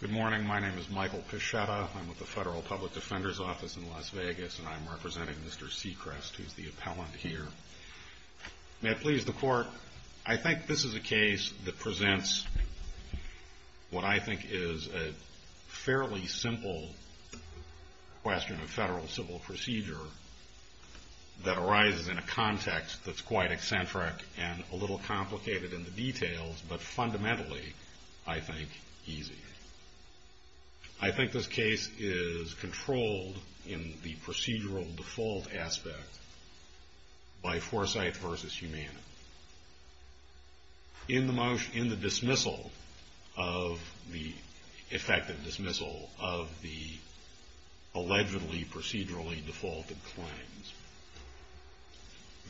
Good morning. My name is Michael Pichetta. I'm with the Federal Public Defender's Office in Las Vegas, and I'm representing Mr. Sechrest, who's the appellant here. May it please the Court, I think this is a case that presents what I think is a fairly simple question of federal civil procedure that arises in a context that's quite eccentric and a little complicated in the details, but fundamentally, I think, easy. I think this case is controlled in the procedural default aspect by foresight versus humanity. In the dismissal of the effective dismissal of the allegedly procedurally defaulted claims,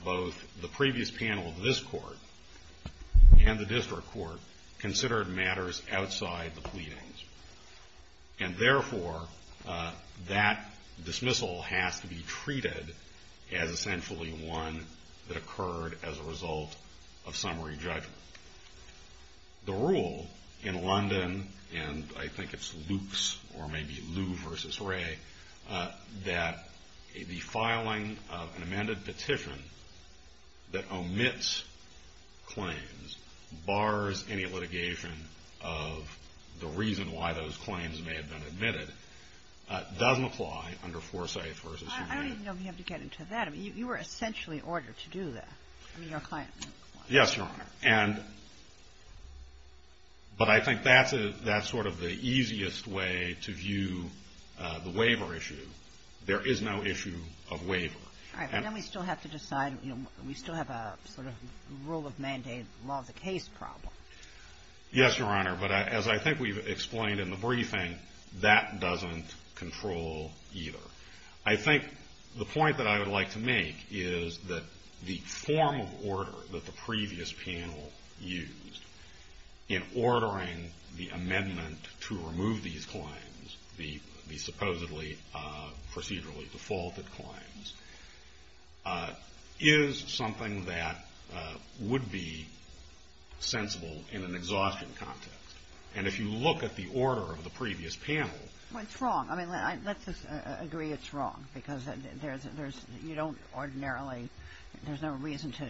both the previous panel of this Court and the District Court considered matters outside the pleadings. And therefore, that dismissal has to be treated as essentially one that occurred as a result of summary judgment. The rule in London, and I think it's Luke's or maybe Lew v. Ray, that the filing of an amended petition that omits claims, bars any litigation of the reason why those claims may have been admitted, doesn't apply under foresight versus humanity. I didn't know if you have to get into that. I mean, you were essentially ordered to do that. I mean, your client was. Yes, Your Honor. And, but I think that's a, that's sort of the easiest way to view the waiver issue. There is no issue of waiver. All right. But then we still have to decide, you know, we still have a sort of rule of mandate, law of the case problem. Yes, Your Honor. But as I think we've explained in the briefing, that doesn't control either. I think the point that I would like to make is that the form of order that the previous panel used in ordering the amendment to remove these claims, the supposedly procedurally defaulted claims, is something that would be sensible in an exhaustion context. And if you look at the order of the previous panel. Well, it's wrong. I mean, let's just agree it's wrong, because there's, you don't ordinarily, there's no reason to,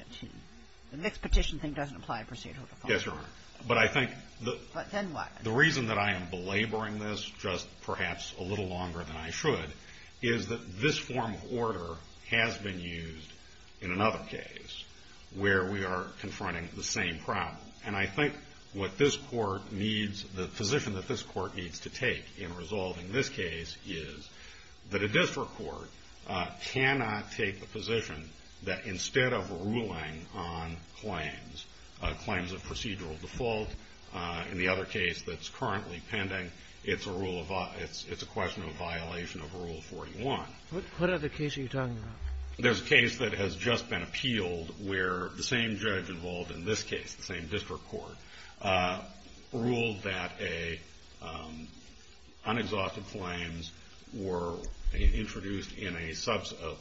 this petition thing doesn't apply procedurally. Yes, Your Honor. But I think the reason that I am belaboring this just perhaps a little longer than I should is that this form of order has been used in another case where we are confronting the same problem. And I think what this Court needs, the position that this Court needs to take in resolving this case is that a district court cannot take the position that instead of ruling on claims, claims of procedural default, in the other case that's currently pending, it's a rule of, it's a question of a violation of Rule 41. What other case are you talking about? There's a case that has just been appealed where the same judge involved in this case, the same district court, ruled that unexhausted claims were introduced in a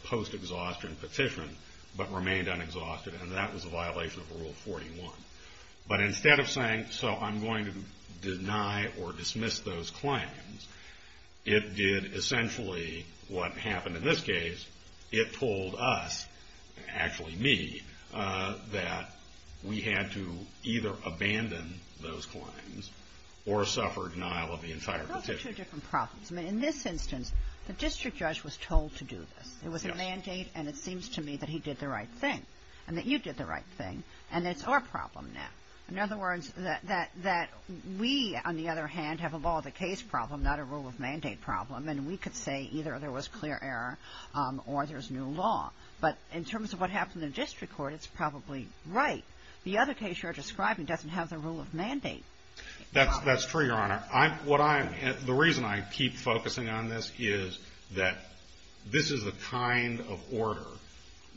post-exhaustion petition, but remained unexhausted, and that was a violation of Rule 41. But instead of saying, so I'm going to deny or dismiss those claims, it did essentially what happened in this case. It told us, actually me, that we had to either abandon those claims or suffer denial of the entire petition. Those are two different problems. I mean, in this instance, the district judge was told to do this. It was a mandate, and it seems to me that he did the right thing, and that you did the right thing, and it's our problem now. In other words, that we, on the other hand, have a law of the case problem, not a rule of mandate problem, and we could say either there was clear error or there's new law. But in terms of what happened in the district court, it's probably right. The other case you're describing doesn't have the rule of mandate. That's true, Your Honor. What I'm – the reason I keep focusing on this is that this is the kind of order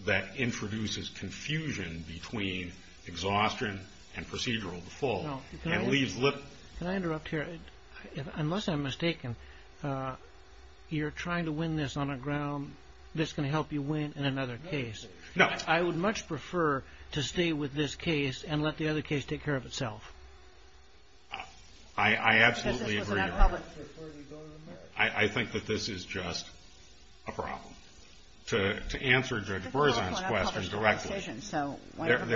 that introduces confusion between exhaustion and procedural default and leaves – Can I interrupt here? Unless I'm mistaken, you're trying to win this on a ground that's going to help you win in another case. No. I would much prefer to stay with this case and let the other case take care of itself. I absolutely agree, Your Honor. Because this wasn't out in public before you go to America. I think that this is just a problem. To answer Judge Berzon's question directly,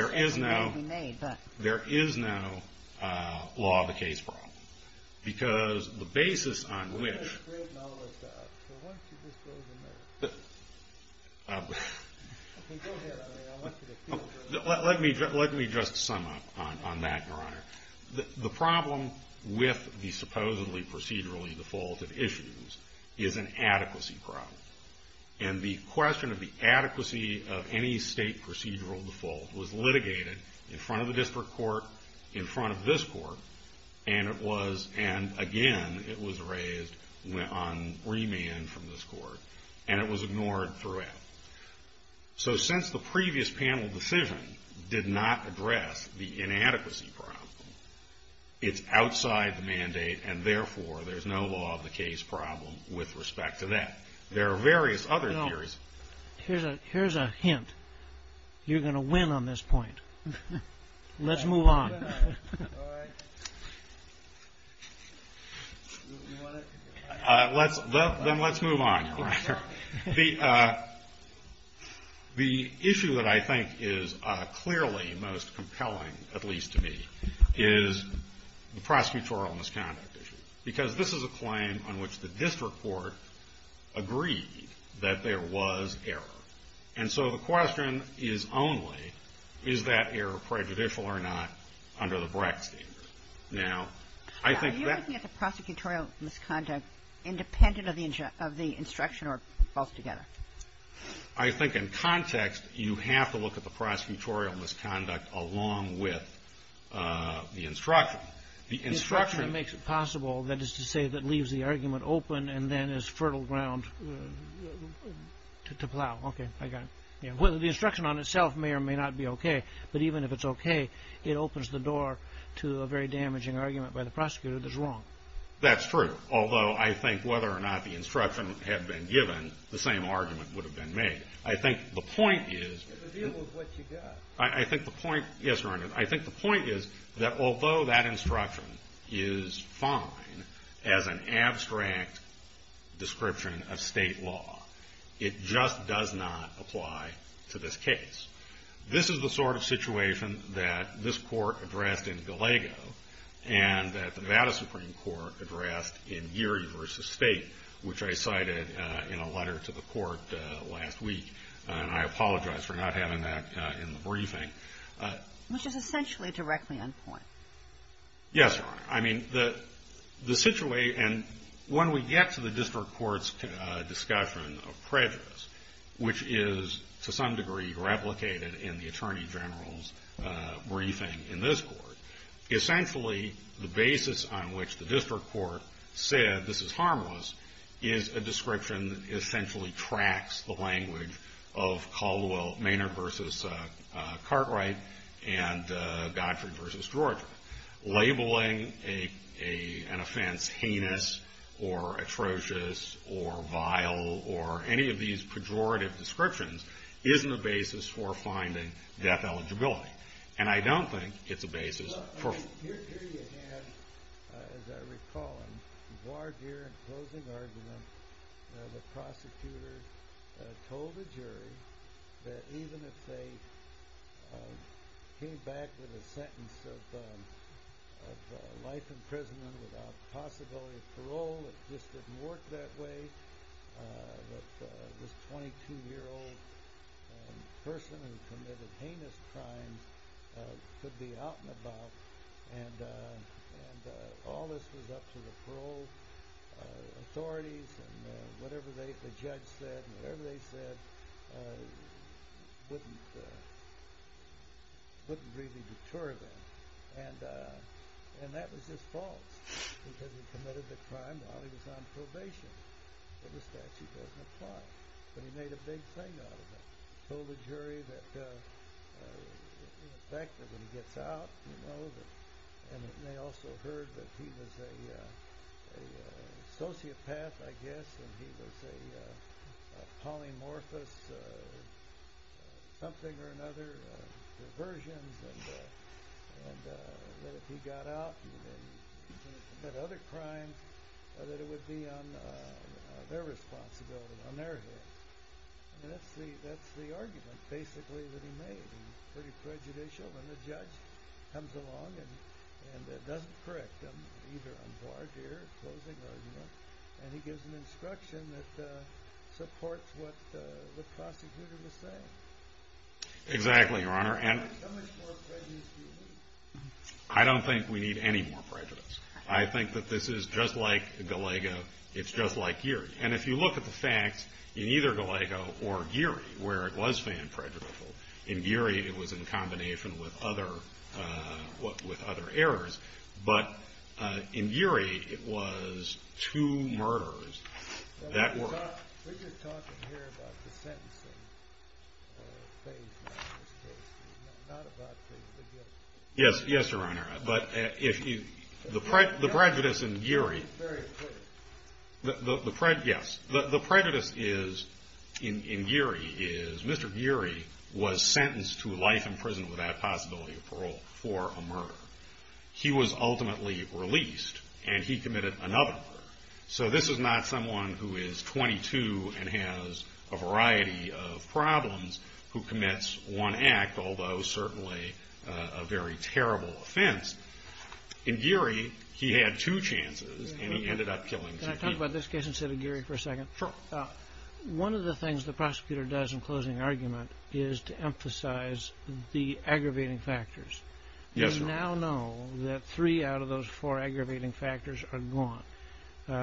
there is no law of the case problem. Because the basis on which – Well, that's great knowledge. So why don't you just go to America? Okay, go ahead. I mean, I want you to feel – Let me just sum up on that, Your Honor. The problem with the supposedly procedurally defaulted issues is an adequacy problem. And the question of the adequacy of any state procedural default was litigated in front of the district court, in front of this court, and it was – and again, it was raised on remand from this court. And it was ignored throughout. So since the previous panel decision did not address the inadequacy problem, it's outside the mandate, and therefore, there's no law of the case problem with respect to that. There are various other theories. Here's a hint. You're going to win on this point. Let's move on. Then let's move on, Your Honor. The issue that I think is clearly most compelling, at least to me, is the prosecutorial misconduct issue. Because this is a claim on which the district court agreed that there was error. And so the question is only, is that error prejudicial or not under the BRAC standard? Now, I think that – Are you looking at the prosecutorial misconduct independent of the instruction or both together? I think in context, you have to look at the prosecutorial misconduct along with the instruction. The instruction – Then is fertile ground to plow. Okay, I got it. Well, the instruction on itself may or may not be okay. But even if it's okay, it opens the door to a very damaging argument by the prosecutor that's wrong. That's true. Although I think whether or not the instruction had been given, the same argument would have been made. I think the point is – It's a deal of what you got. I think the point – yes, Your Honor. I think the point is that although that instruction is fine as an abstract description of state law, it just does not apply to this case. This is the sort of situation that this Court addressed in Gallego and that the Nevada Supreme Court addressed in Geary v. State, which I cited in a letter to the Court last week. And I apologize for not having that in the briefing. Which is essentially directly on point. Yes, Your Honor. I mean, the situation – and when we get to the District Court's discussion of prejudice, which is to some degree replicated in the Attorney General's briefing in this Court, essentially the basis on which the District Court said this is harmless is a description that essentially tracks the language of Caldwell Maynard v. Cartwright and Godfrey v. Georgia. Labeling an offense heinous or atrocious or vile or any of these pejorative descriptions isn't a basis for finding death eligibility. And I don't think it's a basis for – Well, here you have, as I recall, in voir dire and closing argument, the prosecutor told the jury that even if they came back with a sentence of life imprisonment without possibility of parole, it just didn't work that way, that this 22-year-old person who committed heinous crimes could be out and about. And all this was up to the parole authorities and whatever the judge said and whatever they said wouldn't really deter them. And that was just false, because he committed the crime while he was on probation, but the statute doesn't apply. But he made a big thing out of it. He told the jury that in effect that when he gets out, you know, and they also heard that he was a sociopath, I guess, and he was a polymorphous something or another, diversions, and that if he got out and committed other crimes, that it would be on their responsibility, on their heads. And that's the argument basically that he made, and pretty prejudicial, and the judge comes along and doesn't correct him, either on voir dire or closing argument, and he gives an instruction that supports what the prosecutor was saying. Exactly, Your Honor, and – How much more prejudice do you need? I don't think we need any more prejudice. I think that this is just like Gallego, it's just like Geary. And if you look at the facts, in either Gallego or Geary, where it was fan prejudicial, in Geary it was in combination with other errors, but in Geary it was two murders that were – We're just talking here about the sentencing, not about the guilt. Yes, Your Honor, but the prejudice in Geary is Mr. Geary was sentenced to life in prison without possibility of parole for a murder. He was ultimately released, and he committed another murder. So this is not someone who is 22 and has a variety of problems who commits one act, although certainly a very terrible offense. In Geary, he had two chances, and he ended up killing two people. Can I talk about this case instead of Geary for a second? Sure. One of the things the prosecutor does in closing argument is to emphasize the aggravating factors. Yes, Your Honor. We now know that three out of those four aggravating factors are gone.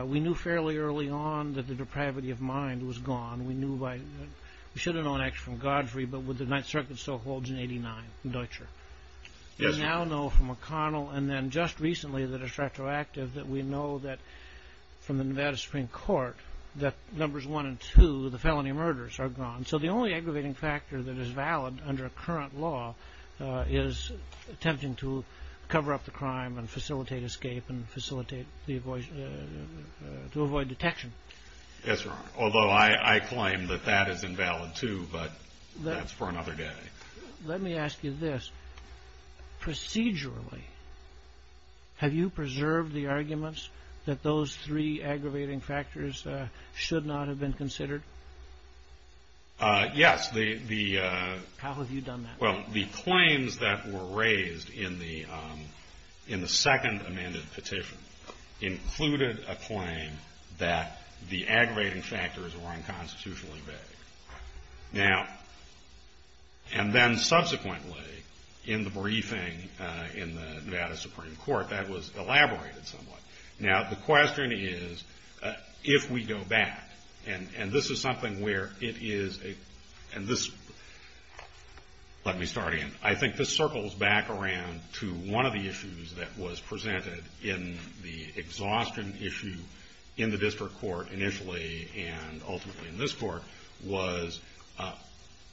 We knew fairly early on that the depravity of mind was gone. We should have known actually from Godfrey, but with the Ninth Circuit still holds in 89 in Deutscher. Yes, Your Honor. We now know from O'Connell and then just recently that it's retroactive that we know that from the Nevada Supreme Court that numbers one and two, the felony murders, are gone. So the only aggravating factor that is valid under current law is attempting to cover up the crime and facilitate escape and facilitate the avoid – to avoid detection. Yes, Your Honor. Although I claim that that is invalid, too, but that's for another day. Let me ask you this. Procedurally, have you preserved the arguments that those three aggravating factors should not have been considered? Yes. How have you done that? Well, the claims that were raised in the second amended petition included a claim that the aggravating factors were unconstitutionally vague. Now – and then subsequently in the briefing in the Nevada Supreme Court, that was elaborated somewhat. Now, the question is, if we go back, and this is something where it is a – and this – let me start again. I think this circles back around to one of the issues that was presented in the exhaustion issue in the district court initially and ultimately in this court was,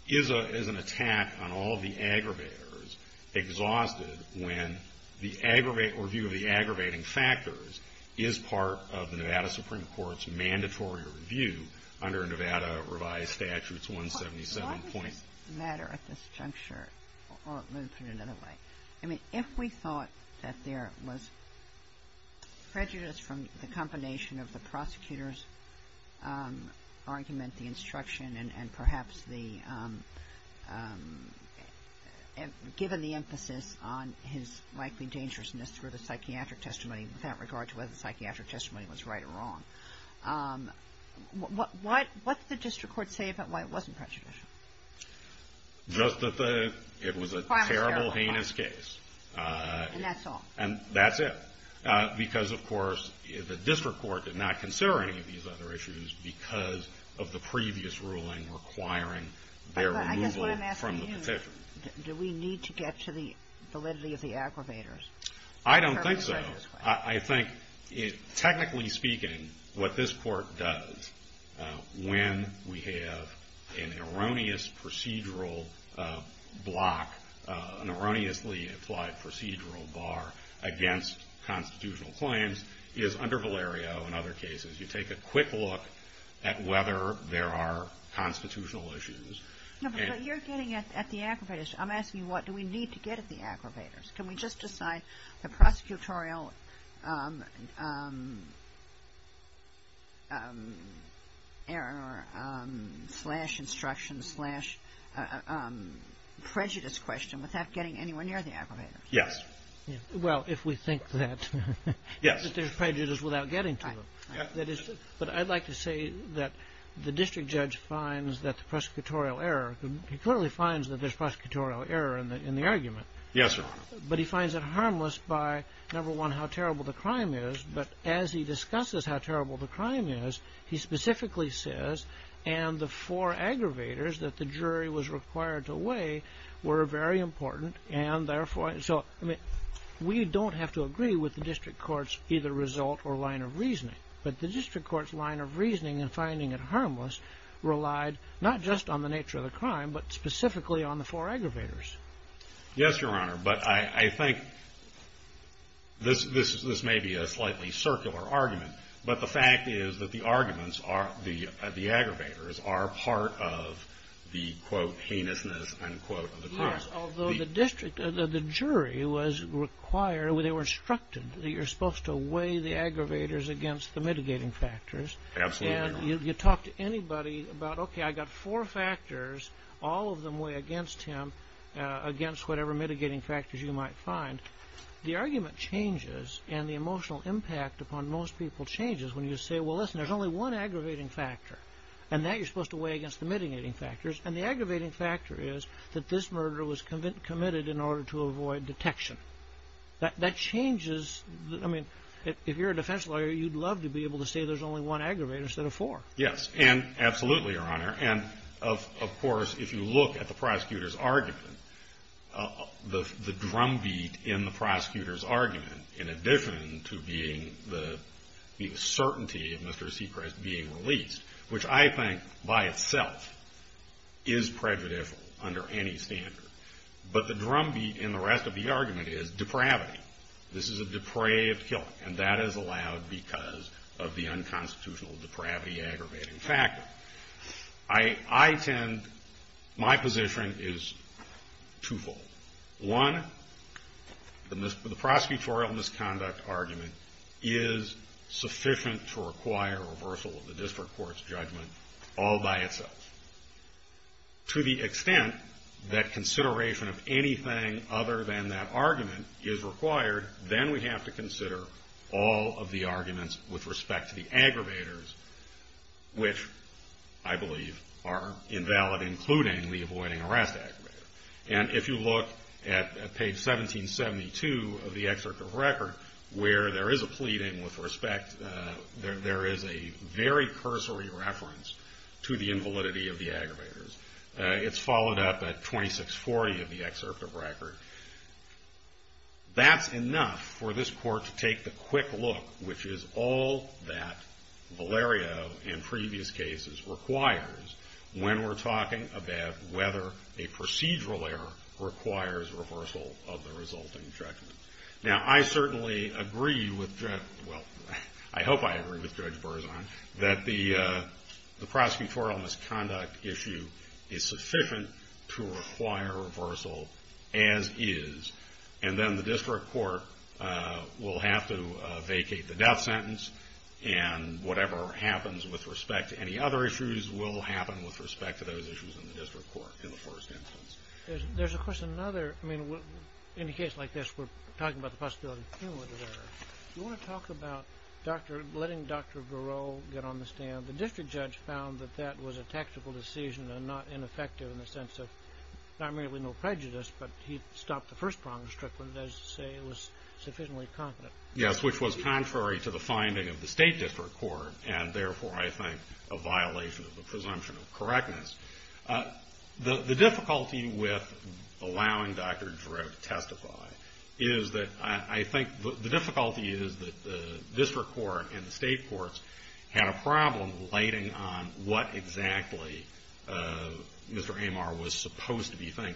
is an attack on all of the aggravators exhausted when the – or view of the aggravating factors is part of the Nevada Supreme Court's mandatory review under Nevada revised statutes 177. Why does this matter at this juncture? Let me put it another way. I mean, if we thought that there was prejudice from the combination of the prosecutor's argument, the instruction and perhaps the – given the emphasis on his likely dangerousness through the psychiatric testimony with that regard to whether the psychiatric testimony was right or wrong, what did the district court say about why it wasn't prejudice? Just that the – it was a terrible, heinous case. And that's all. And that's it. Because, of course, the district court did not consider any of these other issues because of the previous ruling requiring their removal from the petition. I guess what I'm asking you, do we need to get to the validity of the aggravators? I don't think so. I think technically speaking what this court does when we have an erroneous procedural block, an erroneously applied procedural bar against constitutional claims is under Valerio and other cases. You take a quick look at whether there are constitutional issues. No, but you're getting at the aggravators. I'm asking what do we need to get at the prosecutorial error slash instruction slash prejudice question without getting anywhere near the aggravators? Yes. Well, if we think that there's prejudice without getting to them. Right. But I'd like to say that the district judge finds that the prosecutorial error – he clearly finds that there's prosecutorial error in the argument. Yes, sir. But he finds it harmless by, number one, how terrible the crime is. But as he discusses how terrible the crime is, he specifically says, and the four aggravators that the jury was required to weigh were very important and therefore – so we don't have to agree with the district court's either result or line of reasoning. But the district court's line of reasoning in finding it harmless relied not just on the nature of the crime but specifically on the four aggravators. Yes, Your Honor. But I think this may be a slightly circular argument. But the fact is that the arguments are – the aggravators are part of the, quote, heinousness, unquote, of the crime. Yes, although the district – the jury was required – they were instructed that you're supposed to weigh the aggravators against the mitigating factors. Absolutely, Your Honor. You talk to anybody about, okay, I've got four factors. All of them weigh against him against whatever mitigating factors you might find. The argument changes and the emotional impact upon most people changes when you say, well, listen, there's only one aggravating factor and that you're supposed to weigh against the mitigating factors. And the aggravating factor is that this murderer was committed in order to avoid detection. That changes – I mean, if you're a defense lawyer, you'd love to be able to say there's only one aggravator instead of four. Yes. And absolutely, Your Honor. And of course, if you look at the prosecutor's argument, the drumbeat in the prosecutor's argument, in addition to being the certainty of Mr. Seacrest being released, which I think by itself is prejudicial under any standard, but the drumbeat in the rest of the argument is depravity. This is a depraved killing and that is allowed because of the unconstitutional depravity aggravating factor. I tend – my position is twofold. One, the prosecutorial misconduct argument is sufficient to require reversal of the district court's judgment all by itself. To the extent that consideration of anything other than that argument is required, then we have to consider all of the arguments with respect to the aggravators, which I believe are invalid, including the avoiding arrest aggravator. And if you look at page 1772 of the excerpt of record, where there is a pleading with respect – there is a very cursory reference to the invalidity of the aggravators. It's followed up at 2640 of the excerpt of record. That's enough for this court to take the quick look, which is all that Valerio in previous cases requires when we're talking about whether a procedural error requires reversal of the resulting judgment. Now, I certainly agree with – well, I hope I agree with Judge Berzon that the reversal as is, and then the district court will have to vacate the death sentence, and whatever happens with respect to any other issues will happen with respect to those issues in the district court in the first instance. There's, of course, another – I mean, in a case like this, we're talking about the possibility of an inward error. Do you want to talk about letting Dr. Giroux get on the stand? The district judge found that that was a prejudice, but he stopped the first problem strictly, and that is to say it was sufficiently confident. Yes, which was contrary to the finding of the state district court, and therefore I think a violation of the presumption of correctness. The difficulty with allowing Dr. Giroux to testify is that I think – the difficulty is that the district court and the state courts had a problem relating on what exactly Mr. Giroux said.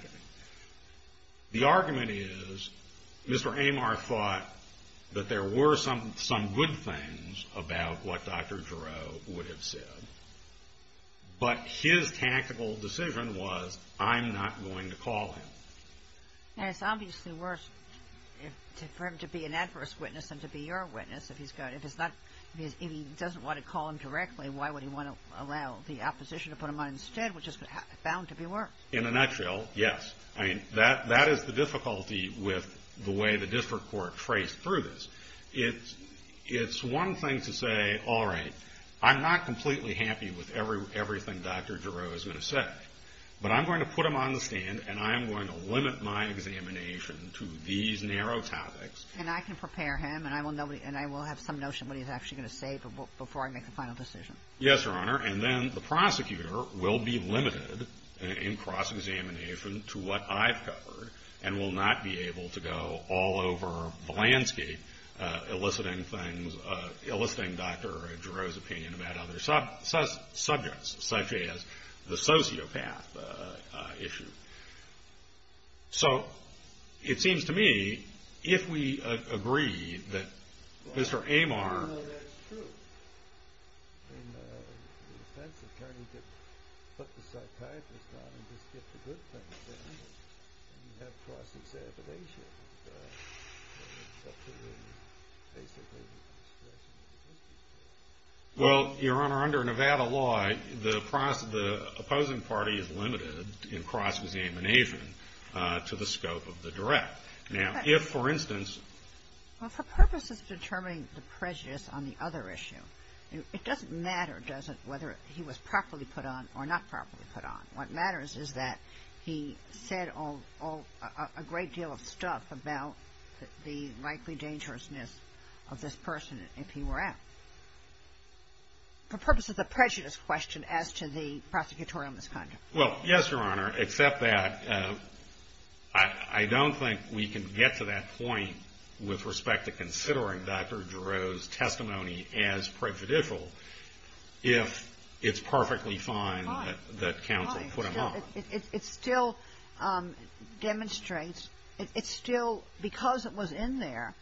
The argument is Mr. Amar thought that there were some good things about what Dr. Giroux would have said, but his tactical decision was I'm not going to call him. And it's obviously worse for him to be an adverse witness than to be your witness if he's going – if it's not – if he doesn't want to call him directly, why would he want to allow the opposition to put him on instead, which is bound to be worse. In a nutshell, yes. I mean, that is the difficulty with the way the district court traced through this. It's one thing to say, all right, I'm not completely happy with everything Dr. Giroux is going to say, but I'm going to put him on the stand, and I am going to limit my examination to these narrow topics. And I can prepare him, and I will have some notion of what he's actually going to say before I make the final decision. Yes, Your Honor, and then the prosecutor will be limited in cross-examination to what I've covered and will not be able to go all over the landscape eliciting things – eliciting Dr. Giroux's opinion about other subjects, such as the sociopath issue. So it seems to me, if we agree that Mr. Amar – the defense attorney can put the psychiatrist on and just get the good things done, then you have cross-examination. Well, Your Honor, under Nevada law, the opposing party is limited in cross-examination to the scope of the direct. Now, if, for instance – Well, for purposes of determining the prejudice on the other issue, it doesn't matter, does it, whether he was properly put on or not properly put on. What matters is that he said a great deal of stuff about the likely dangerousness of this person if he were out. For purposes of prejudice question as to the prosecutorial misconduct. Well, yes, Your Honor, except that I don't think we can get to that point with respect to considering Dr. Giroux's testimony as prejudicial if it's perfectly fine that counsel put him on. It still demonstrates – it still – because it was in there,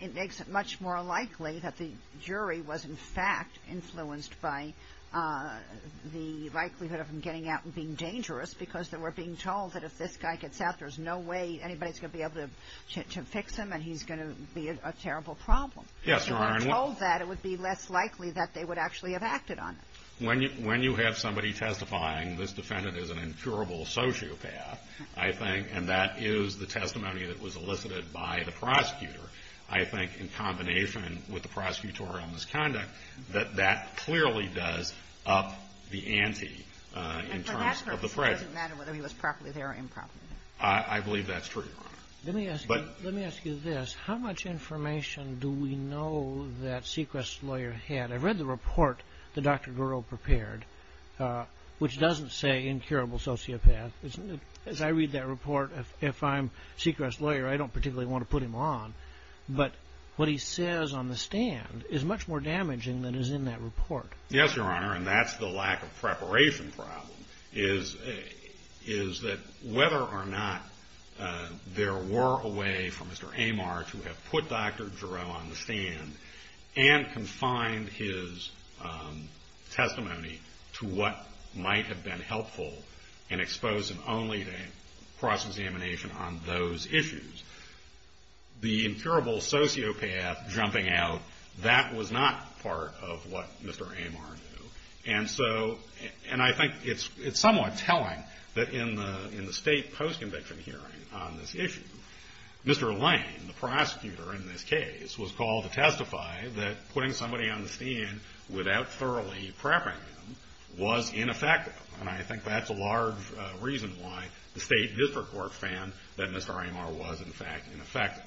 it makes it much more likely that the jury was, in fact, influenced by the likelihood of him getting out and being dangerous because they were being told that if this guy gets out, there's no way anybody's going to be able to fix him and he's going to be a terrible problem. Yes, Your Honor. If they were told that, it would be less likely that they would actually have acted on it. When you have somebody testifying, this defendant is an incurable sociopath, I think, and that is the testimony that was elicited by the prosecutor. I think, in combination with the prosecutorial misconduct, that that clearly does up the ante in terms of the prejudice. And for that purpose, it doesn't matter whether he was properly there or improperly there. I believe that's true. Let me ask you this. How much information do we know that Sechrest's lawyer had? I read the report that Dr. Giroux prepared, which doesn't say incurable sociopath. As I read that report, if I'm Sechrest's lawyer, I don't particularly want to put him on. But what he says on the stand is much more damaging than is in that report. Yes, Your Honor, and that's the lack of preparation problem, is that whether or not there were a way for Mr. Amarch to have put Dr. Giroux on the stand and confined his testimony to what might have been helpful in exposing only the cross-examination on those issues. The incurable sociopath jumping out, that was not part of what Mr. Amarch knew. And I think it's somewhat telling that in the state post-conviction hearing on this issue, Mr. Lane, the prosecutor in this case, was called to testify that putting somebody on the stand without thoroughly prepping them was ineffective. And I think that's a large reason why the state district court found that Mr. Amarch was, in fact, ineffective.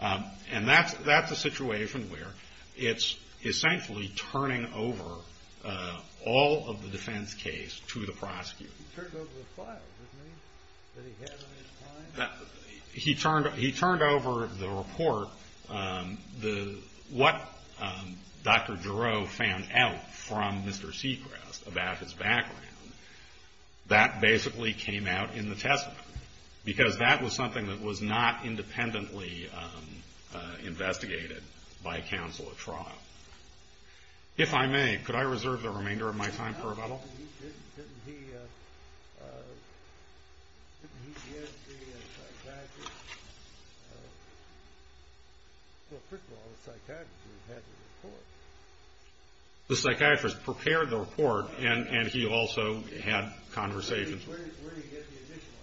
And that's a situation where it's essentially turning over all of the defense case to the prosecutor. He turned over the file, doesn't he? That he had on his client? He turned over the report, what Dr. Giroux found out from Mr. Seacrest about his background. That basically came out in the testimony. Because that was something that was not independently investigated by counsel at trial. If I may, could I reserve the remainder of my time for a moment? Didn't he get the psychiatrist? Well, first of all, the psychiatrist had the report. The psychiatrist prepared the report and he also had conversations. Where did he get the additional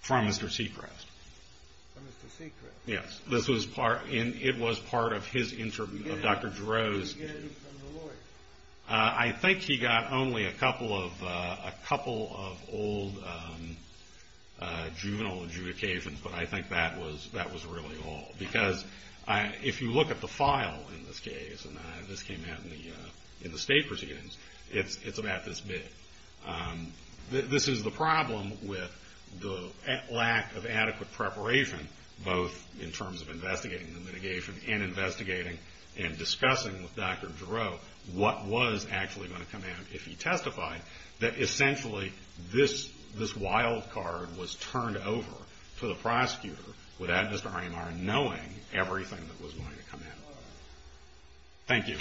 information? From Mr. Seacrest. From Mr. Seacrest? Yes. It was part of his interview with Dr. Giroux. Did he get any from the lawyer? I think he got only a couple of old juvenile adjudications, but I think that was really all. Because if you look at the file in this case, and this came out in the state proceedings, it's about this big. This is the problem with the lack of adequate preparation, both in terms of investigating the mitigation and investigating and discussing with Dr. Giroux what was actually going to come out if he testified, that essentially this wild card was turned over to the prosecutor without Mr. Harnemeyer knowing everything that was going to come out. Thank you.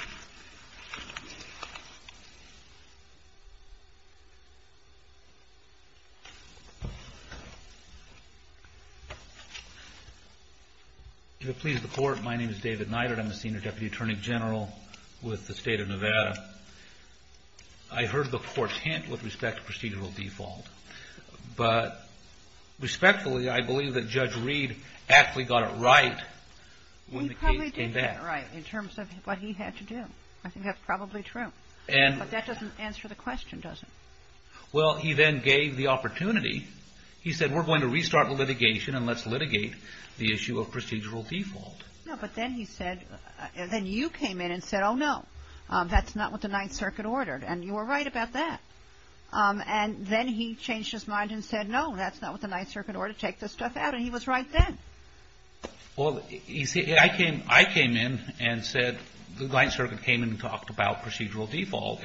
If it pleases the Court, my name is David Neidert. I'm the Senior Deputy Attorney General with the State of Nevada. I heard the Court's hint with respect to procedural default, but respectfully, I believe that Judge Reed actually got it right when the case came back. He probably did get it right in terms of what he had to do. I think that's probably true. But that doesn't answer the question, does it? Well, he then gave the opportunity. He said, we're going to restart the litigation and let's litigate the issue of procedural default. No, but then he said, then you came in and said, oh no, that's not what the Ninth Circuit ordered, and you were right about that. And then he changed his mind and said, no, that's not what the Ninth Circuit ordered, take this stuff out, and he was right then. Well, you see, I came in and said, the Ninth Circuit came in and talked about procedural default.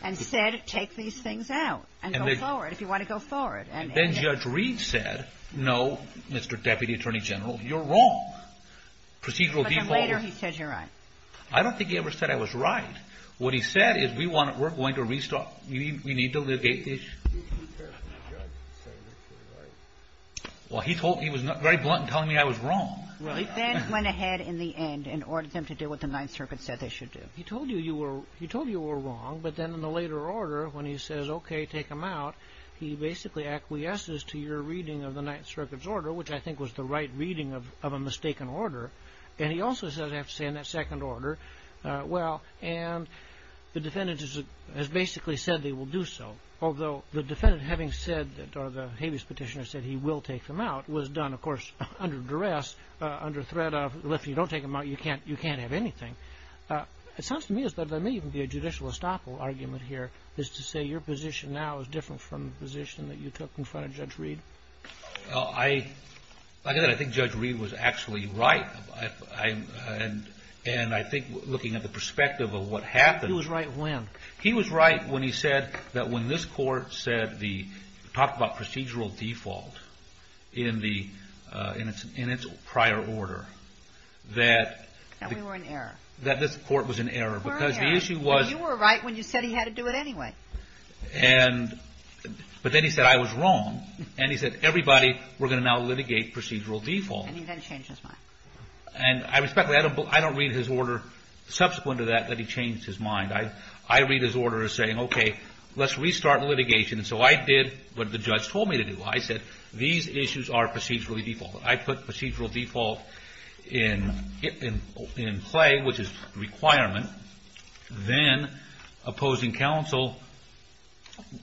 And said, take these things out and go forward, if you want to go forward. And then Judge Reed said, no, Mr. Deputy Attorney General, you're wrong. But then later he said you're right. I don't think he ever said I was right. What he said is, we're going to restart. We need to litigate the issue. Well, he was very blunt in telling me I was wrong. Well, he then went ahead in the end and ordered them to do what the Ninth Circuit said they should do. He told you you were wrong, but then in the later order, when he says, OK, take them out, he basically acquiesces to your reading of the Ninth Circuit's order, which I think was the right reading of a mistaken order. And he also says, I have to say in that second order, well, and the defendant has basically said they will do so. Although the defendant, having said, or the habeas petitioner said he will take them out, was done, of course, under duress, under threat of, well, if you don't take them out, you can't have anything. It sounds to me as though there may even be a judicial estoppel argument here, as to say your position now is different from the position that you took in front of Judge Reed. Like I said, I think Judge Reed was actually right. And I think looking at the perspective of what happened... He was right when? He was right when he said that when this court said the, talked about procedural default in its prior order, that... That we were in error. That this court was in error, because the issue was... You were right when you said he had to do it anyway. And, but then he said I was wrong. And he said everybody, we're going to now litigate procedural default. And he then changed his mind. And I respect that, but I don't read his order subsequent to that, that he changed his mind. I read his order as saying, okay, let's restart litigation. So I did what the judge told me to do. I said, these issues are procedurally default. I put procedural default in play, which is requirement. Then, opposing counsel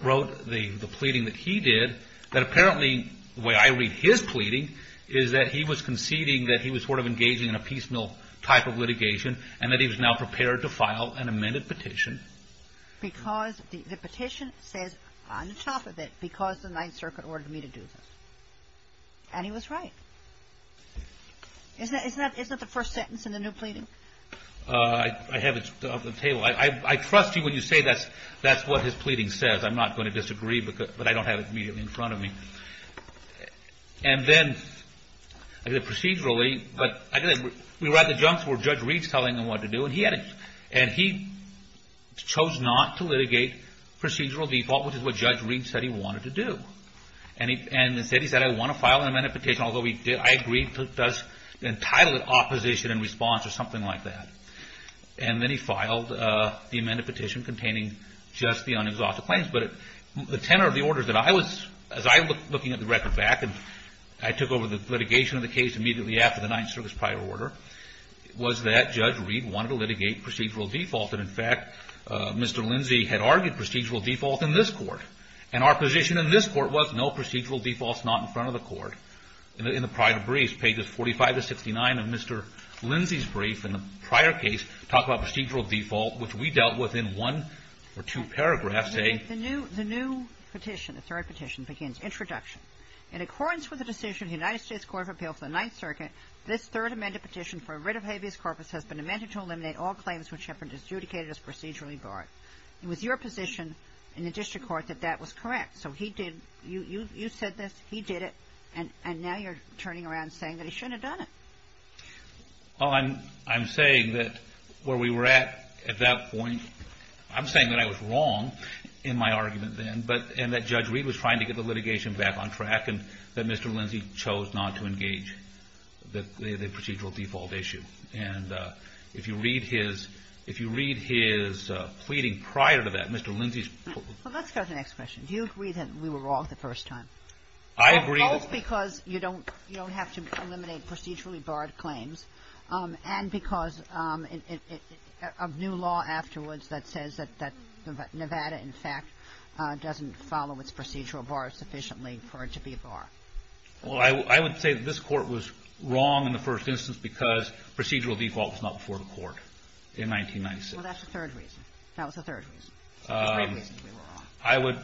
wrote the pleading that he did, that apparently, the way I read his pleading, is that he was conceding that he was sort of engaging in a piecemeal type of litigation, and that he was now prepared to file an amended petition. Because the petition says, on top of it, because the Ninth Circuit ordered me to do this. And he was right. Isn't that the first sentence in the new pleading? I have it up on the table. I trust you when you say that's what his pleading says. I'm not going to disagree, but I don't have it immediately in front of me. And then, procedurally, we were at the juncture where Judge Reed was telling him what to do, and he chose not to litigate procedural default, which is what Judge Reed said he wanted to do. And he said, I want to file an amended petition, although I agreed to entitle it opposition in response, or something like that. And then he filed the amended petition containing just the unexhausted claims. But the tenor of the order that I was looking at the record back, and I took over the litigation of the case immediately after the Ninth Circuit's prior order, was that Judge Reed wanted to litigate procedural default. And in fact, Mr. Lindsey had argued procedural default in this Court. And our position in this Court was, no, procedural default's not in front of the Court. In the prior briefs, pages 45 to 69 of Mr. Lindsey's brief in the prior case, talk about procedural default, which we dealt with in one or two paragraphs. The new petition, the third petition, begins, introduction. In accordance with the decision of the United States Court of Appeal for the Ninth Circuit, this third amended petition for a writ of habeas corpus has been amended to eliminate all claims which have been adjudicated as procedurally barred. It was your position in the District Court that that was correct. So he did, you said this, he did it, and now you're turning around saying that he shouldn't have done it. Well, I'm saying that where we were at at that point, I'm saying that I was wrong in my argument then, and that Judge Reed was trying to get the litigation back on track, and that Mr. Lindsey chose not to engage the procedural default issue. And if you read his, if you read his pleading prior to that, Mr. Lindsey's Well, let's go to the next question. Do you agree that we were wrong the first time? I agree. Both because you don't have to eliminate procedurally barred claims, and because of new law afterwards that says that Nevada, in fact, doesn't follow its procedural bar sufficiently for it to be barred. Well, I would say that this Court was wrong in the first instance because procedural default was not before the Court in 1996. Well, that's the third reason. That was the third reason. I would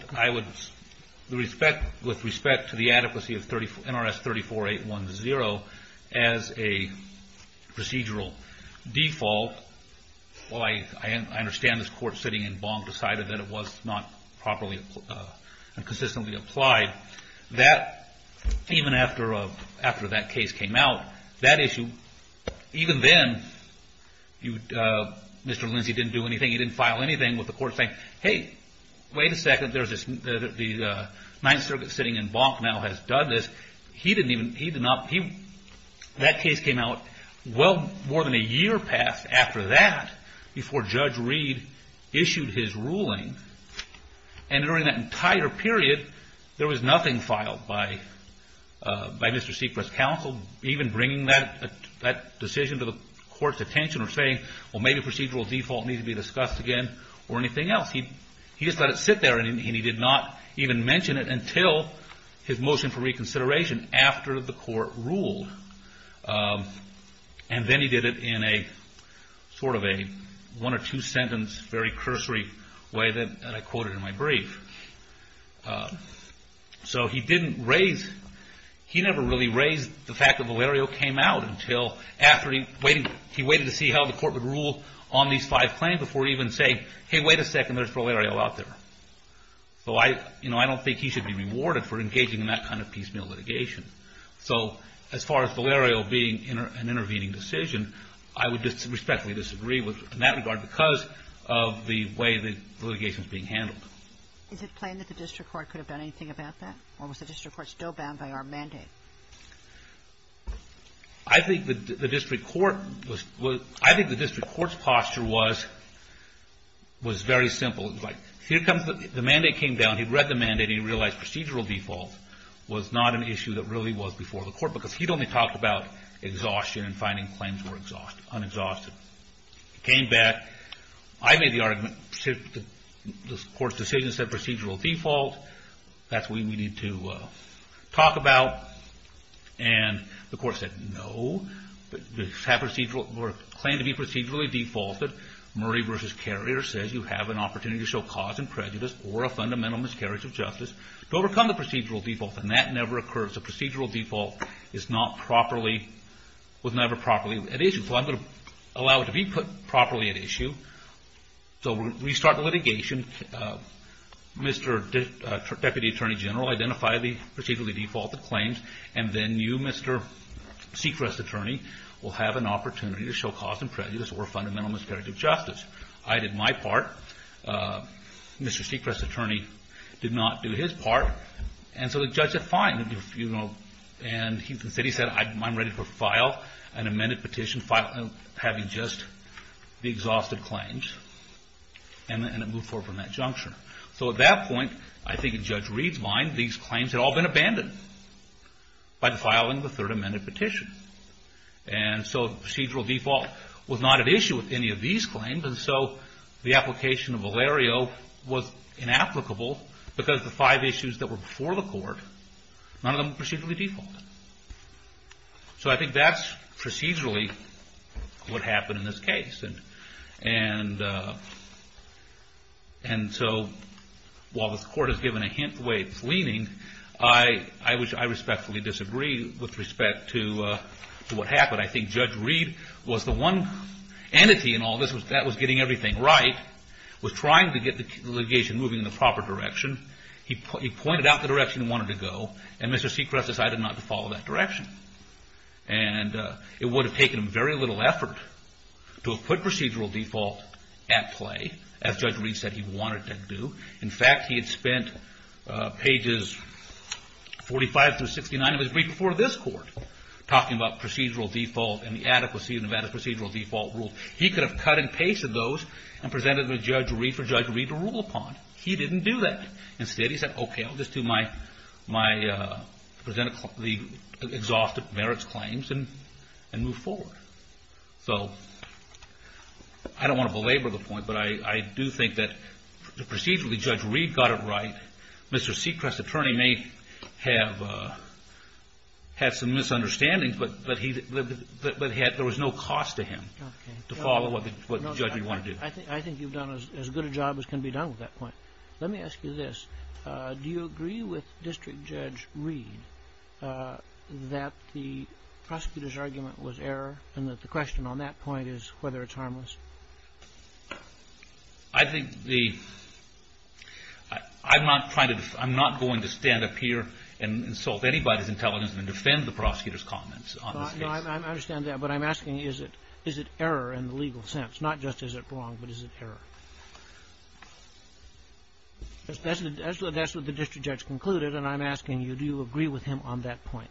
respect, with respect to the adequacy of NRS 34810 as a default, I understand this Court sitting in Bonk decided that it was not consistently applied. That, even after that case came out, that issue, even then, Mr. Lindsey didn't do anything. He didn't file anything with the Court saying, hey, wait a second, the Ninth Circuit sitting in Bonk now has done this. That case came out well more than a year past after that, before Judge Reed issued his ruling, and during that entire period, there was nothing filed by Mr. Seacrest's counsel, even bringing that decision to the Court's attention or saying, well, maybe procedural default needs to be discussed again or anything else. He just let it sit there and he did not even mention it until his motion for reconsideration after the Court ruled. And then he did it in a sort of a one or two sentence very cursory way that I quoted in my brief. So, he didn't raise, he never really raised the fact that Valerio came out until after he waited to see how the Court would rule on these five claims before even saying, hey, wait a second, there's Valerio out there. So, I don't think he should be rewarded for engaging in that kind of piecemeal litigation. So, as far as Valerio being an intervening decision, I would respectfully disagree in that regard because of the way the litigation was being handled. Is it plain that the District Court could have done anything about that? Or was the District Court still bound by our mandate? I think the District Court I think the District Court's posture was very simple. It was like, here comes the mandate came down, he read the mandate, he realized procedural default was not an issue that really was before the Court because he'd only talked about exhaustion and finding claims were unexhausted. He came back, I made the argument, the Court's decision said procedural default, that's what we need to talk about, and the Court said, no, we claim to be procedurally defaulted. Murray v. Carrier says you have an opportunity to show cause and prejudice or a fundamental miscarriage of justice to overcome the procedural default, and that never occurs. A procedural default was never properly at issue. So I'm going to allow it to be put properly at issue. So we start the litigation, Mr. Deputy Attorney General identified the procedurally defaulted claims, and then you, Mr. Seacrest's attorney, will have an opportunity to show I did my part. Mr. Seacrest's attorney did not do his part, and so the judge said, fine, and he said, I'm ready to file an amended petition having just the exhausted claims, and it moved forward from that juncture. So at that point, I think Judge Reed's mind, these claims had all been abandoned by filing the third amended petition. And so procedural default was not at issue with any of these claims, and so the application of Valerio was inapplicable because the five issues that were before the court, none of them were procedurally defaulted. So I think that's procedurally what happened in this case. so while the court has given a hint the way it's leaning, I respectfully disagree with respect to what happened. I think Judge Reed was the one entity in all this that was getting everything right, was trying to get the litigation moving in the proper direction. He pointed out the direction he wanted to go, and Mr. Seacrest decided not to follow that direction. And it would have taken very little effort to have put procedural default at play, as Judge Reed said he wanted to do. In fact, he had spent pages 45 through 69 of his brief before this court talking about procedural default and the adequacy of Nevada's procedural default rules. He could have cut and pasted those and presented them to Judge Reed for Judge Reed to rule upon. He didn't do that. Instead he said, okay, I'll just do my presented exhaustive merits claims and move forward. So I don't want to belabor the point, but I do think that procedurally Judge Reed got it right. Mr. Seacrest's attorney may have had some misunderstandings, but there was no cost to him to follow what the judge would want to do. I think you've done as good a job as can be done with that point. Let me ask you this. Do you agree with District Judge Reed that the prosecutor's argument was error and that the question on that point is whether it's harmless? I think the I'm not going to stand up here and insult anybody's intelligence and I understand that, but I'm asking is it error in the legal sense? Not just is it wrong, but is it error? That's what the District Judge concluded, and I'm asking you, do you agree with him on that point?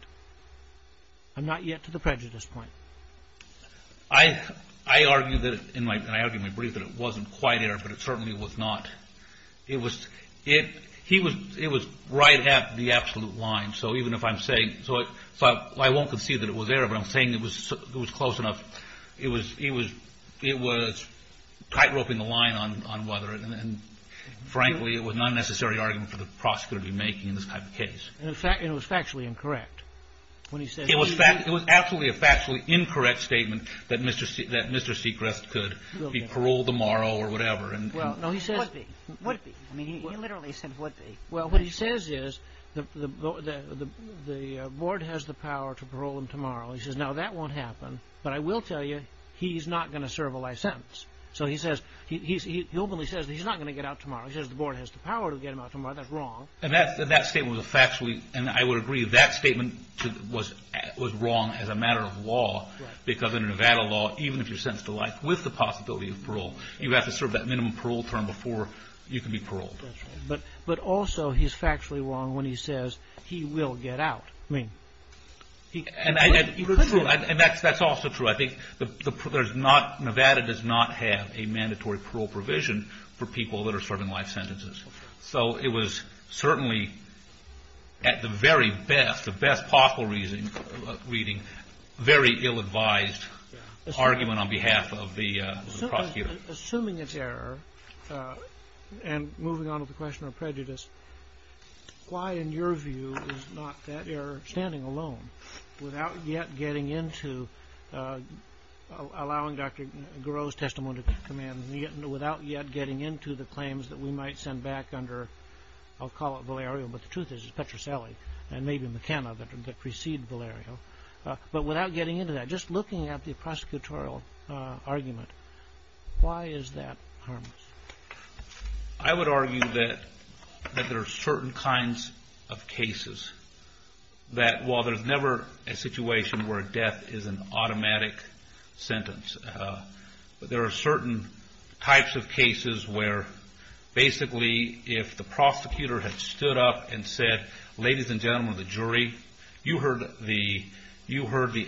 I'm not yet to the prejudice point. I argue that it wasn't quite error, but it certainly was not. It was right at the absolute line. So even if I'm saying I won't concede that it was error, but I'm saying it was close enough. It was tightrope in the line on whether and frankly it was not a necessary argument for the prosecutor to be making in this type of case. It was factually incorrect. It was absolutely a factually incorrect statement that Mr. Sechrest could be paroled tomorrow or whatever. Would be. He literally said would be. What he says is the board has the power to parole him tomorrow. He says now that won't happen, but I will tell you he's not going to serve a life sentence. So he says, he openly says he's not going to get out tomorrow. He says the board has the power to get him out tomorrow. That's wrong. That statement was factually, and I would agree that statement was wrong as a matter of law because in Nevada law, even if you're sentenced to life with the possibility of parole, you have to serve that minimum parole term before you can be paroled. But also he's factually wrong when he says he will get out. I mean. And that's also true. I think the Nevada does not have a mandatory parole provision for people that are serving life sentences. So it was certainly at the very best, the best possible reading, very ill-advised argument on behalf of the prosecutor. Assuming it's error and moving on with the question of prejudice, why in your view is not that error standing alone without yet getting into allowing Dr. Garot's testimony to come in without yet getting into the claims that we might send back under I'll call it Valerio, but the truth is Petrocelli and maybe McKenna that precede Valerio. But without getting into that, just looking at the prosecutorial argument, why is that harmless? I would argue that there are certain kinds of cases that while there's never a situation where death is an automatic sentence, there are certain types of cases where basically if the prosecutor ladies and gentlemen of the jury, you heard the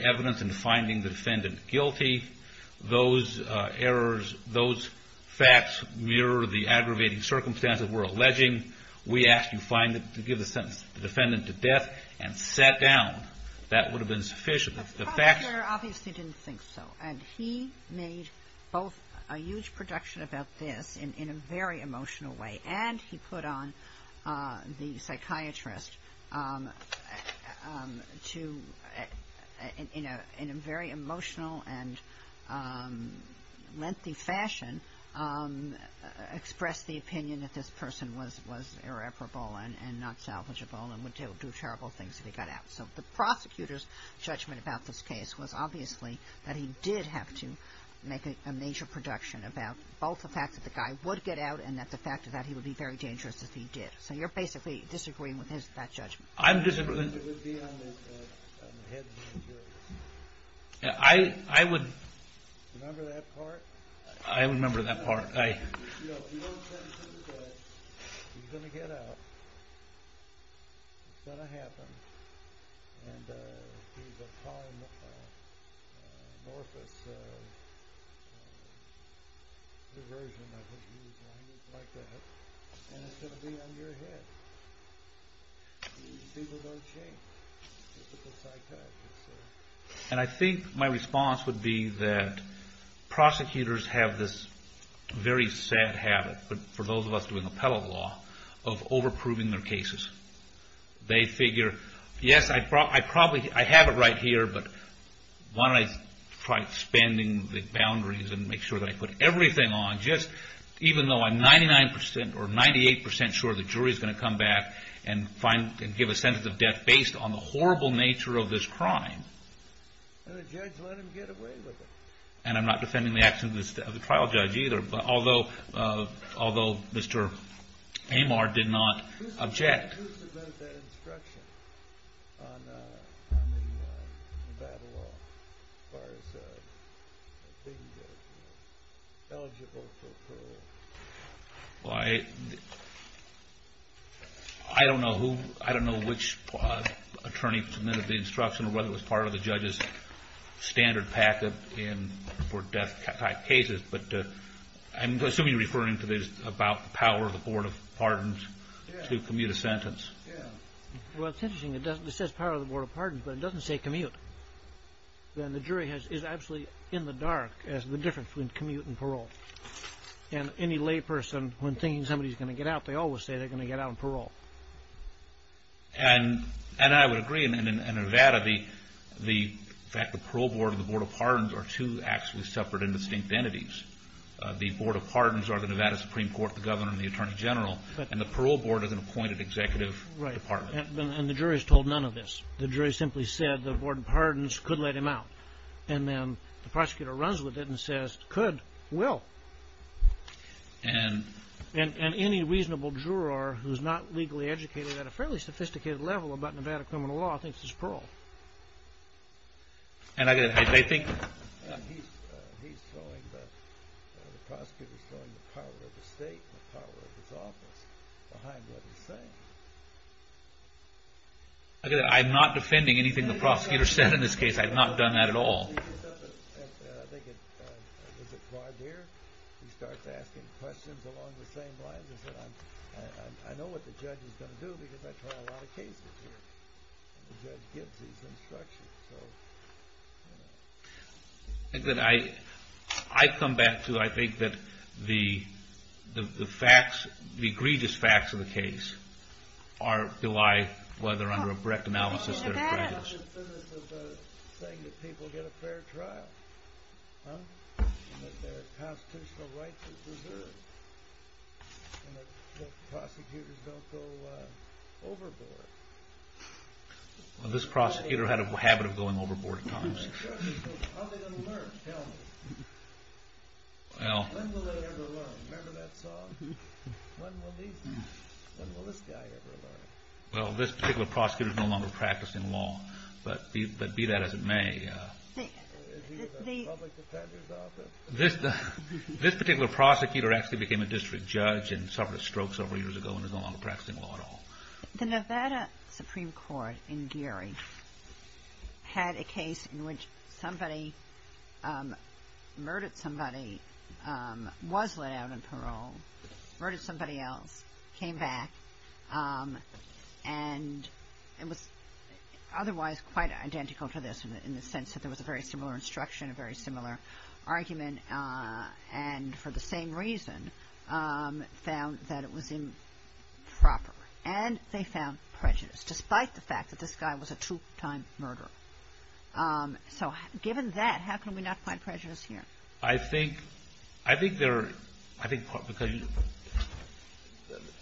evidence in finding the defendant guilty, those errors, those facts mirror the aggravating circumstances we're alleging. We asked you to give the sentence to the defendant to death and sat down. That would have been sufficient. The prosecutor obviously didn't think so, and he made both a huge projection about this in a very emotional way, and he put on the psychiatrist to, in a very emotional and lengthy fashion, express the opinion that this person was irreparable and not salvageable and would do terrible things if he got out. So the prosecutor's judgment about this case was obviously that he did have to make a major production about both the fact that the guy would get out and that the fact that he would be very dangerous if he did. So you're basically disagreeing with that judgment? It would be on the head of the jury. I would... Remember that part? I remember that part. If you don't sentence him to death, he's going to get out, it's going to happen, and he's going to call an amorphous diversion, I think you would use language like that, and it's going to be on your head. People don't change. And I think my response would be that prosecutors have this very sad habit, for those of us doing appellate law, of over-proving their cases. They figure, yes, I have it right here, but why don't I try expanding the boundaries and make sure that I put everything on, just even though I'm 99% or 98% sure the jury is going to come back and give a sentence of death based on the horrible nature of this crime. And the judge let him get away with it. And I'm not defending the actions of the trial judge either, although Mr. Amar did not object. Who's about that instruction on the battle law? As far as being eligible for parole. Well, I don't know which attorney submitted the instruction or whether it was part of the judge's standard packet for death-type cases, but I'm assuming you're referring to this about the power of the Board of Pardons to commute a sentence. It says power of the Board of Pardons, but it doesn't say commute. And the jury is absolutely in the dark as to the difference between commute and parole. And any lay person, when thinking somebody is going to get out, they always say they're going to get out on parole. And I would agree, and in Nevada the fact that the Parole Board and the Board of Pardons are two actually separate and distinct entities. The Board of Pardons are the Nevada Supreme Court, the Governor, and the Attorney General. And the Parole Board is an appointed executive department. And the jury has told none of this. The jury simply said the Board of Pardons could let him out. And then the prosecutor runs with it and says, could, will. And any reasonable juror who's not legally educated at a fairly sophisticated level about Nevada criminal law thinks it's parole. And I get it. I think... prosecutors throwing the power of the state and the power of his office behind what he's saying. I'm not defending anything the prosecutor said in this case. I've not done that at all. I think that I come back to, I think that the facts, the egregious facts of the case are to lie whether under a correct analysis they're egregious. This prosecutor had a habit of going overboard at times. Well, this particular prosecutor is no longer practicing law. But be that as it may. This particular prosecutor actually became a district judge and suffered a stroke several years ago and is no longer practicing law at all. The Nevada Supreme Court in Geary had a case in which somebody murdered somebody, was let out on parole, murdered somebody else, came back and it was otherwise quite identical to this in the sense that there was a very similar instruction, a very similar argument and for the same reason found that it was improper. And they found prejudice despite the fact that this guy was a two-time murderer. So given that how can we not find prejudice here? I think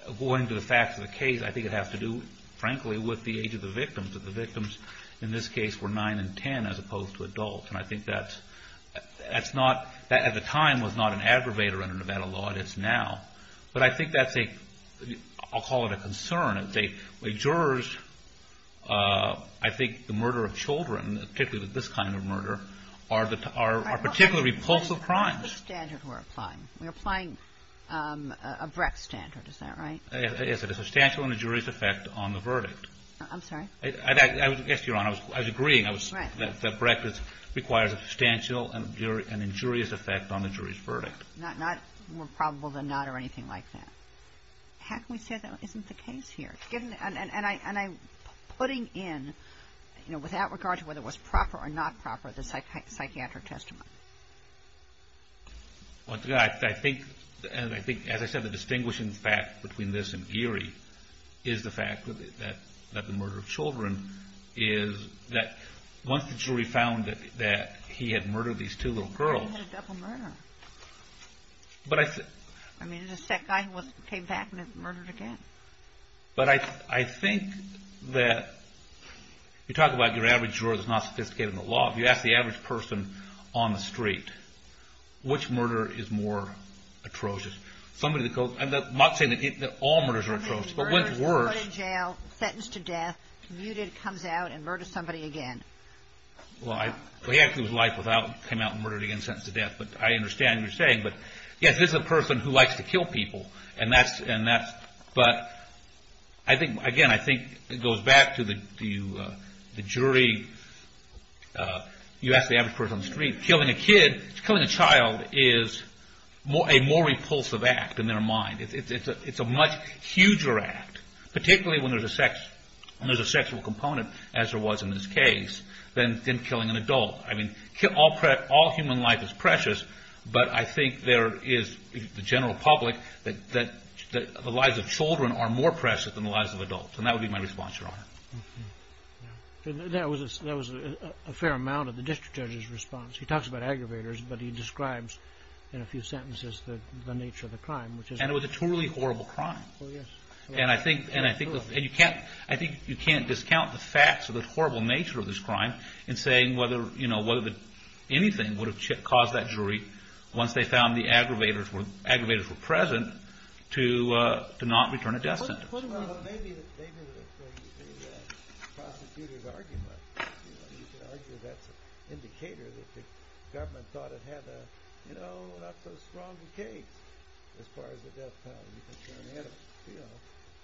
according to the facts of the case I think it has to do frankly with the age of the victims. The victims in this case were nine and ten as opposed to adults. And I think that at the time was not an aggravator under Nevada law. It is now. But I think that's a I'll call it a concern. Jurors I think the murder of children particularly with this kind of murder are particularly repulsive crimes. We're applying a Brecht standard. Is that right? Yes. It is a substantial and injurious effect on the verdict. I'm sorry? Yes, Your Honor. I was agreeing that Brecht requires a substantial and injurious effect on the jury's verdict. More probable than not or anything like that. How can we say that isn't the case here? And I'm putting in without regard to whether it was proper or not proper, the psychiatric testimony. I think as I said, the distinguishing fact between this and Geary is the fact that the murder of children is that once the jury found that he had murdered these two little girls He had a double murder. I mean, it was that guy who came back and murdered again. But I think that you talk about your average juror that's not sophisticated in the law. If you ask the average person on the street, which murder is more atrocious? I'm not saying that all murders are atrocious, but which is worse? He was put in jail, sentenced to death, muted, comes out, and murders somebody again. Well, he actually came out and murdered again, sentenced to death. But I understand what you're saying. Yes, this is a person who likes to kill people. But again, I think it goes back to the jury. You asked the average person on the street. Killing a child is a more repulsive act in their mind. It's a much huger act, particularly when there's a sexual component, as there was in this case, than killing an adult. All human life is precious, but I think there is the general public that the lives of children are more precious than the lives of adults. And that would be my response, Your Honor. That was a fair amount of the district judge's response. He talks about aggravators, but he describes in a few sentences the nature of the crime. And it was a truly horrible crime. And I think you can't discount the facts of the horrible nature of this crime in saying whether anything would have caused that jury, once they found the aggravators were present, to not return a death sentence. Well, maybe the prosecutor's argument you could argue that's an indicator that the government thought it had a, you know, not so strong a case as far as the death penalty. You know,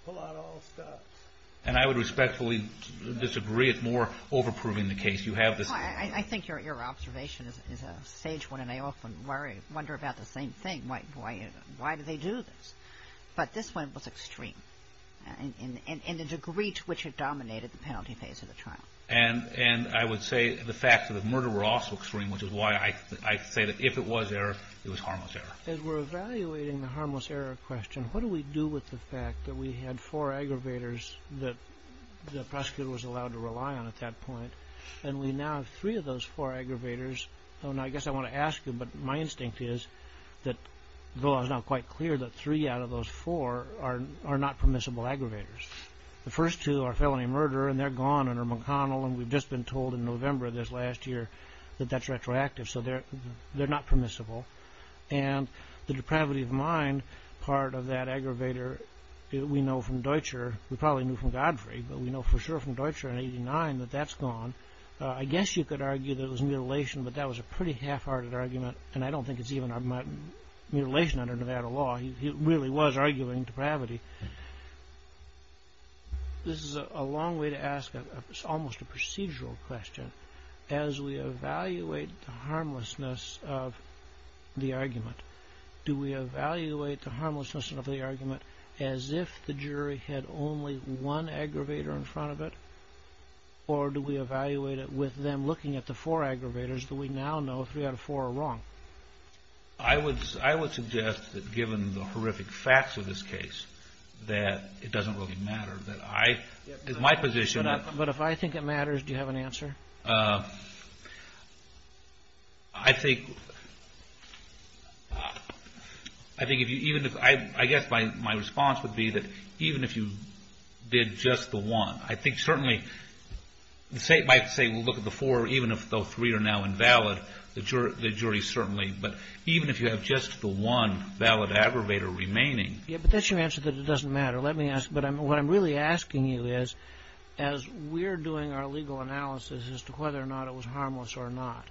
pull out all stops. And I would respectfully disagree at more overproving the case. You have this... I think your observation is a sage one, and I often wonder about the same thing. Why do they do this? But this one was extreme in the degree to which it dominated the penalty phase of the trial. And I would say the facts of the murder were also extreme, which is why I say that if it was error, it was harmless error. As we're evaluating the harmless error question, what do we do with the fact that we had four aggravators that the prosecutor was allowed to rely on at that point, and we now have three of those four aggravators. I guess I want to ask you, but my instinct is that the law is now quite clear that three out of those four are not permissible aggravators. The first two are felony murder, and they're gone under McConnell, and we've just been told in November this last year that that's retroactive, so they're not permissible. And the depravity of mind part of that aggravator we know from Deutscher, we probably knew from Godfrey, but we know for sure from Deutscher in 89 that that's gone. I guess you could argue that it was mutilation, but that was a pretty half-hearted argument, and I don't think it's even mutilation under Nevada law. He really was arguing depravity. This is a long way to ask, it's almost a procedural question. As we evaluate the harmlessness of the argument, do we evaluate the harmlessness of the argument as if the jury had only one aggravator in front of it, or do we evaluate it with them looking at the four aggravators that we now know, three out of four are wrong? I would suggest that given the horrific facts of this case, that it doesn't really matter. It's my position that... But if I think it matters, do you have an answer? I think... I guess my response would be that even if you did just the one, I think certainly the State might say look at the four, even if those three are now invalid, the jury certainly, but even if you have just the one valid aggravator remaining... Yeah, but that's your answer that it doesn't matter. What I'm really asking you is as we're doing our legal analysis as to whether or not it was harmless or not,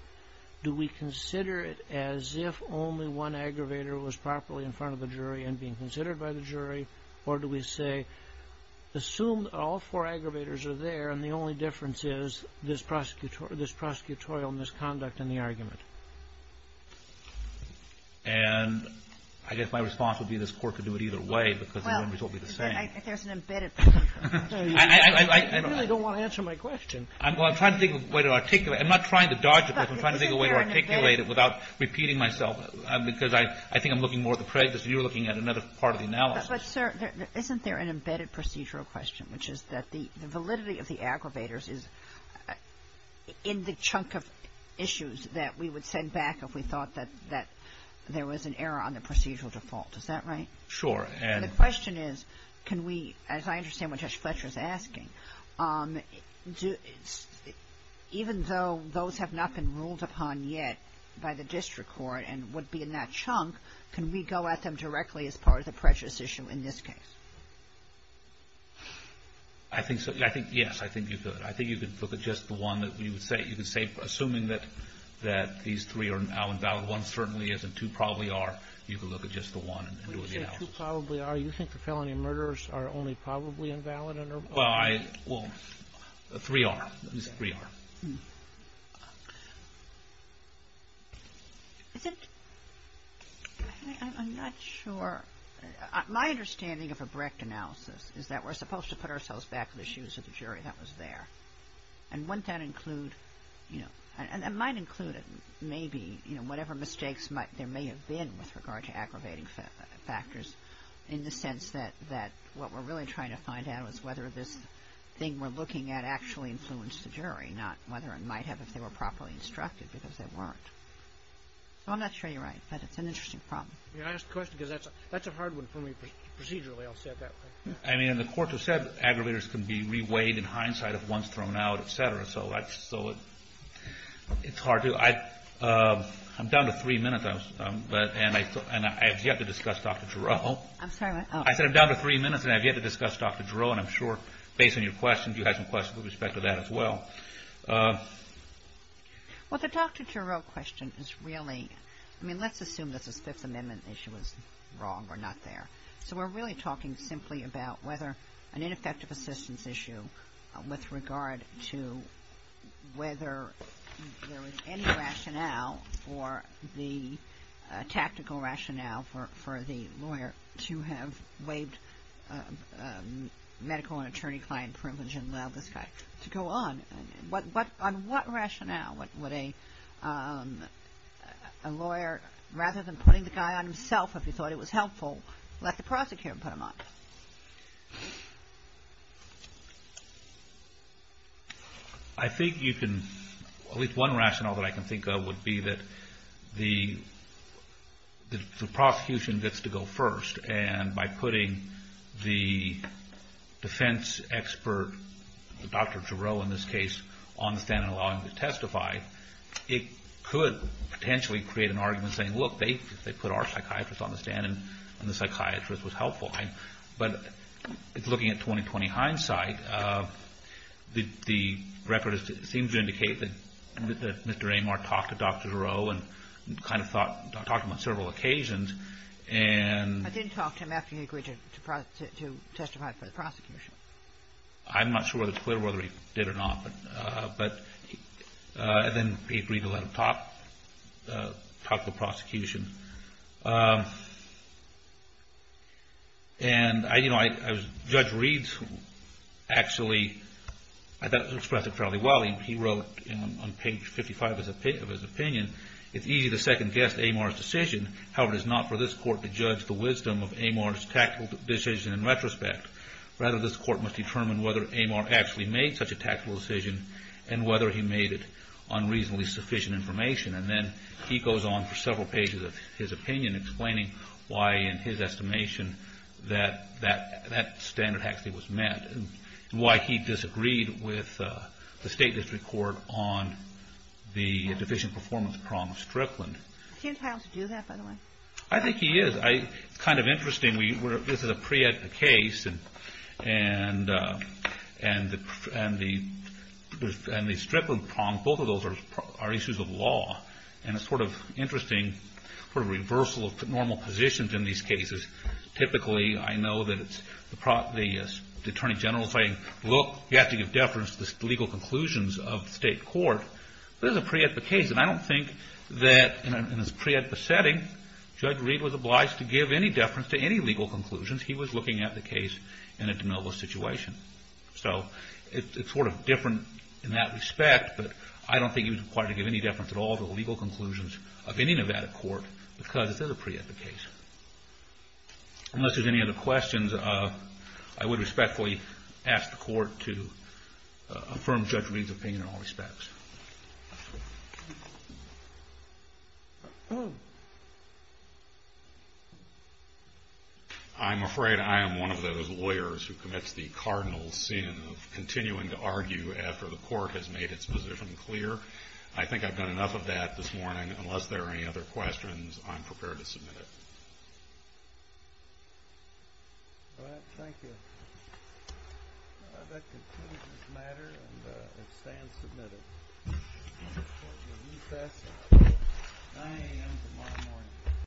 do we consider it as if only one aggravator was properly in front of the jury and being considered by the jury, or do we say assume all four aggravators are there and the only difference is this prosecutorial misconduct in the argument? And I guess my response would be this Court could do it either way because the results would be the same. There's an embedded procedure. You really don't want to answer my question. I'm trying to think of a way to articulate. I'm not trying to dodge it, but I'm trying to think of a way to articulate it without repeating myself because I think I'm looking more at the prejudice and you're looking at another part of the analysis. But, sir, isn't there an embedded procedural question which is that the validity of the aggravators is in the chunk of issues that we would send back if we thought that there was an error on the procedural default. Is that right? Sure. And the question is can we, as I understand what Judge Fletcher's asking, even though those have not been ruled upon yet by the District Court and would be in that chunk, can we go at them directly as part of the prejudice issue in this case? I think so. Yes. I think you could. I think you could look at just the one that you would say, assuming that these three are now invalid. One certainly isn't. Two probably are. You could look at just the one and do the analysis. When you say two probably are, you think the felony murders are only probably invalid? Well, three are. Three are. I'm not sure. My understanding of a correct analysis is that we're supposed to put ourselves back in the shoes of the jury that was there. And wouldn't that include and it might include maybe whatever mistakes there may have been with regard to aggravating factors in the sense that what we're really trying to find out is whether this thing we're looking at actually influenced the jury, not whether it might have if they were properly instructed because they weren't. I'm not sure you're right, but it's an That's a hard one for me procedurally. I'll say it that way. I mean, the courts have said aggravators can be re-weighed in hindsight if one's thrown out, etc. So it's hard to I'm down to three minutes and I have yet to discuss Dr. Jarreau. I'm sorry. I said I'm down to three minutes and I have yet to discuss Dr. Jarreau and I'm sure, based on your question, you have some questions with respect to that as well. Well, the Dr. Jarreau question is really, I mean, let's assume that this Fifth Amendment issue was wrong or not there. So we're really talking simply about whether an ineffective assistance issue with regard to whether there was any rationale for the tactical rationale for the lawyer to have waived medical and attorney-client privilege and allowed this guy to go on. On what rationale would a person putting the guy on himself, if you thought it was helpful, let the prosecutor put him on? I think you can at least one rationale that I can think of would be that the prosecution gets to go first and by putting the defense expert, Dr. Jarreau in this case, on the stand and allowing him to testify, it could potentially create an argument saying, look, they put our psychiatrist on the stand and the psychiatrist was helpful. But looking at 20-20 hindsight, the record seems to indicate that Mr. Amar talked to Dr. Jarreau and kind of talked to him on several occasions and I didn't talk to him after he agreed to testify for the prosecution. I'm not sure whether it's clear whether he did or not, but then he agreed to let him talk to the prosecution. Judge Reeds actually expressed it fairly well. He wrote on page 55 of his opinion, it's easy to second-guess Amar's decision. However, it is not for this court to judge the wisdom of Amar's tactical decision in retrospect. Rather, this court must determine whether Amar actually made such a tactical decision and whether he made it on reasonably sufficient information. And then he goes on for several pages of his opinion explaining why, in his estimation, that standard actually was met. Why he disagreed with the state district court on the deficient performance prong of Strickland. I think he is. It's kind of interesting. This is a pre-ed case and the Strickland prong, both of those are issues of law. And it's sort of interesting, sort of reversal of normal positions in these cases. Typically, I know that the Attorney General saying, look, you have to give deference to the legal conclusions of the state court. This is a pre-ed case, and I don't think that in this pre-ed setting, Judge Reed was obliged to give any deference to any legal conclusions. He was looking at the case in a normal situation. It's sort of different in that respect, but I don't think he was required to give any deference at all to the legal conclusions of any Nevada court because it's a pre-ed case. Unless there's any other questions, I would respectfully ask the Court to affirm Judge Reed's opinion in all respects. I'm afraid I am one of those lawyers who commits the cardinal sin of continuing to argue after the court has made its position clear. I think I've done enough of that this morning. Unless there are any other questions, I'm prepared to submit it. Thank you.